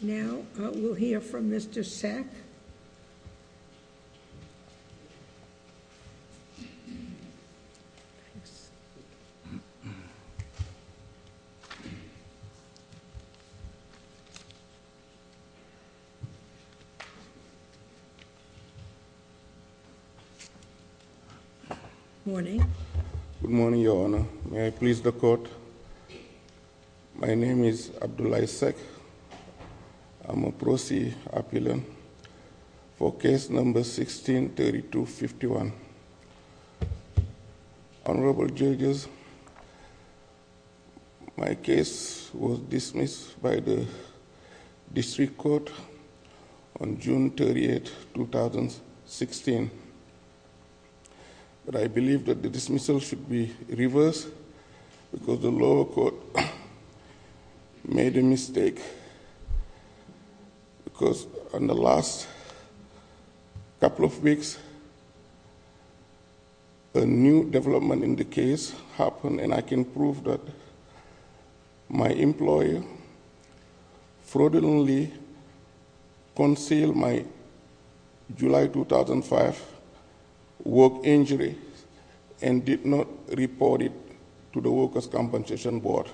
Now we'll hear from Mr. Seck. Morning. Good morning, Your Honor. May I please the court? My name is Abdullahi Seck. I'm a Proceed Appealant for Case No. 16-3251. Honorable Judges, My case was dismissed by the District Court on June 38, 2016. But I believe that the dismissal should be reversed because the lower court made a mistake. Because in the last couple of weeks, a new development in the case happened, and I can prove that my employer fraudulently concealed my July 2005 work injury and did not report it to the Workers' Compensation Board.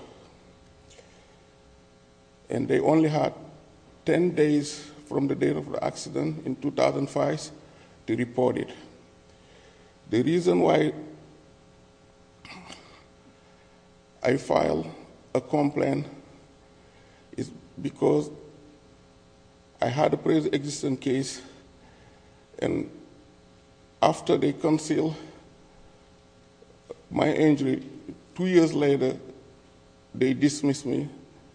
And they only had 10 days from the date of the accident in 2005 to report it. The reason why I filed a complaint is because I had a pre-existing case, and after they concealed my injury, two years later, they dismissed me,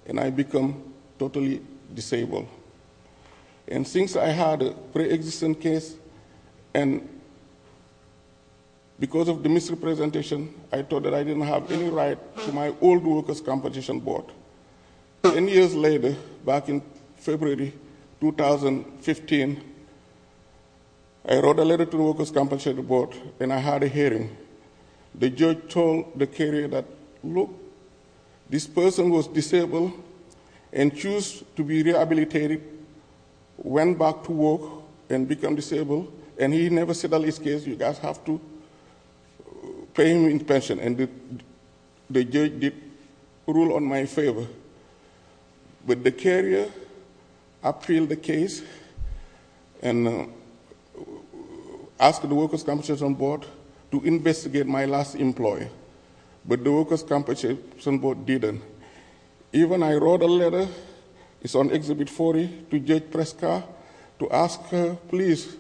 and I became totally disabled. And since I had a pre-existing case, and because of the misrepresentation, I thought that I didn't have any right to my old Workers' Compensation Board. Ten years later, back in February 2015, I wrote a letter to the Workers' Compensation Board, and I had a hearing. The judge told the carrier that, look, this person was disabled and chose to be rehabilitated, and he went back to work and became disabled, and he never settled his case. You guys have to pay him in pension, and the judge did rule in my favor. But the carrier appealed the case and asked the Workers' Compensation Board to investigate my last employer, but the Workers' Compensation Board didn't. Even I wrote a letter, it's on Exhibit 40, to Judge Prescott to ask her, please,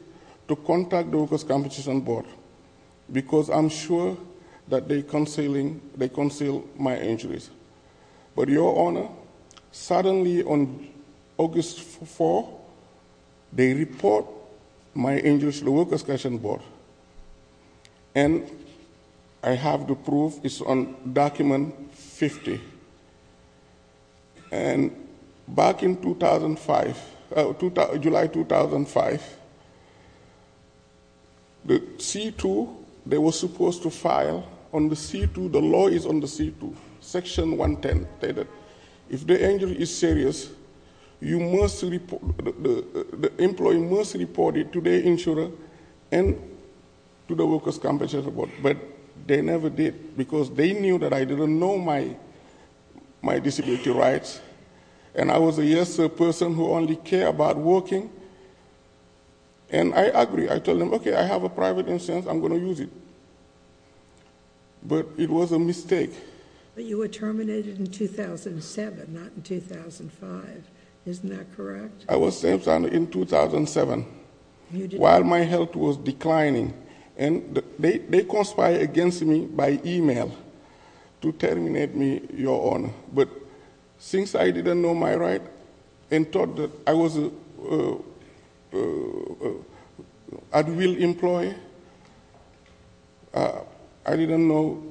to contact the Workers' Compensation Board, because I'm sure that they concealed my injuries. But, Your Honor, suddenly on August 4, they report my injuries to the Workers' Compensation Board, and I have the proof, it's on Document 50. And back in 2005, July 2005, the C2, they were supposed to file on the C2, the law is on the C2, Section 110 stated, if the injury is serious, the employee must report it to the insurer, and to the Workers' Compensation Board. But they never did, because they knew that I didn't know my disability rights, and I was a yes-sir person who only cared about working, and I agreed. I told them, okay, I have a private insurance, I'm going to use it. But it was a mistake. But you were terminated in 2007, not in 2005. Isn't that correct? I was sentenced in 2007. While my health was declining. And they conspired against me by e-mail to terminate me, Your Honor. But since I didn't know my rights, and thought that I was an at-will employee, I didn't know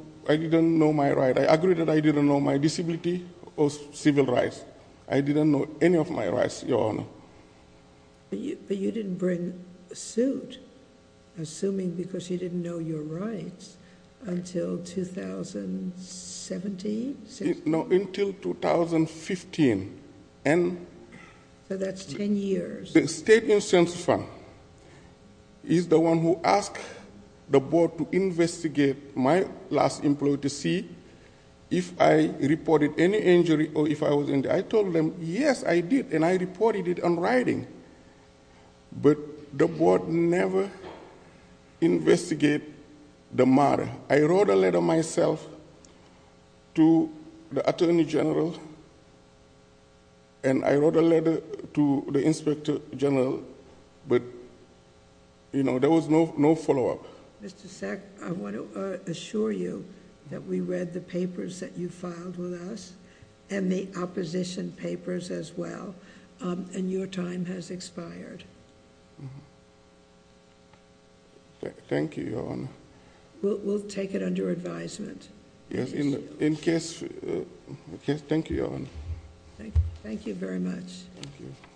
my rights. I agreed that I didn't know my disability or civil rights. I didn't know any of my rights, Your Honor. But you didn't bring a suit, assuming because you didn't know your rights, until 2017? No, until 2015. So that's 10 years. The state insurance firm is the one who asked the board to investigate my last employee to see if I reported any injury or if I was injured. I told them, yes, I did, and I reported it in writing. But the board never investigated the matter. I wrote a letter myself to the Attorney General, and I wrote a letter to the Inspector General, but, you know, there was no follow-up. Mr. Sack, I want to assure you that we read the papers that you filed with us, and the opposition papers as well, and your time has expired. Thank you, Your Honor. We'll take it under advisement. Yes, in case... Yes, thank you, Your Honor. Thank you very much.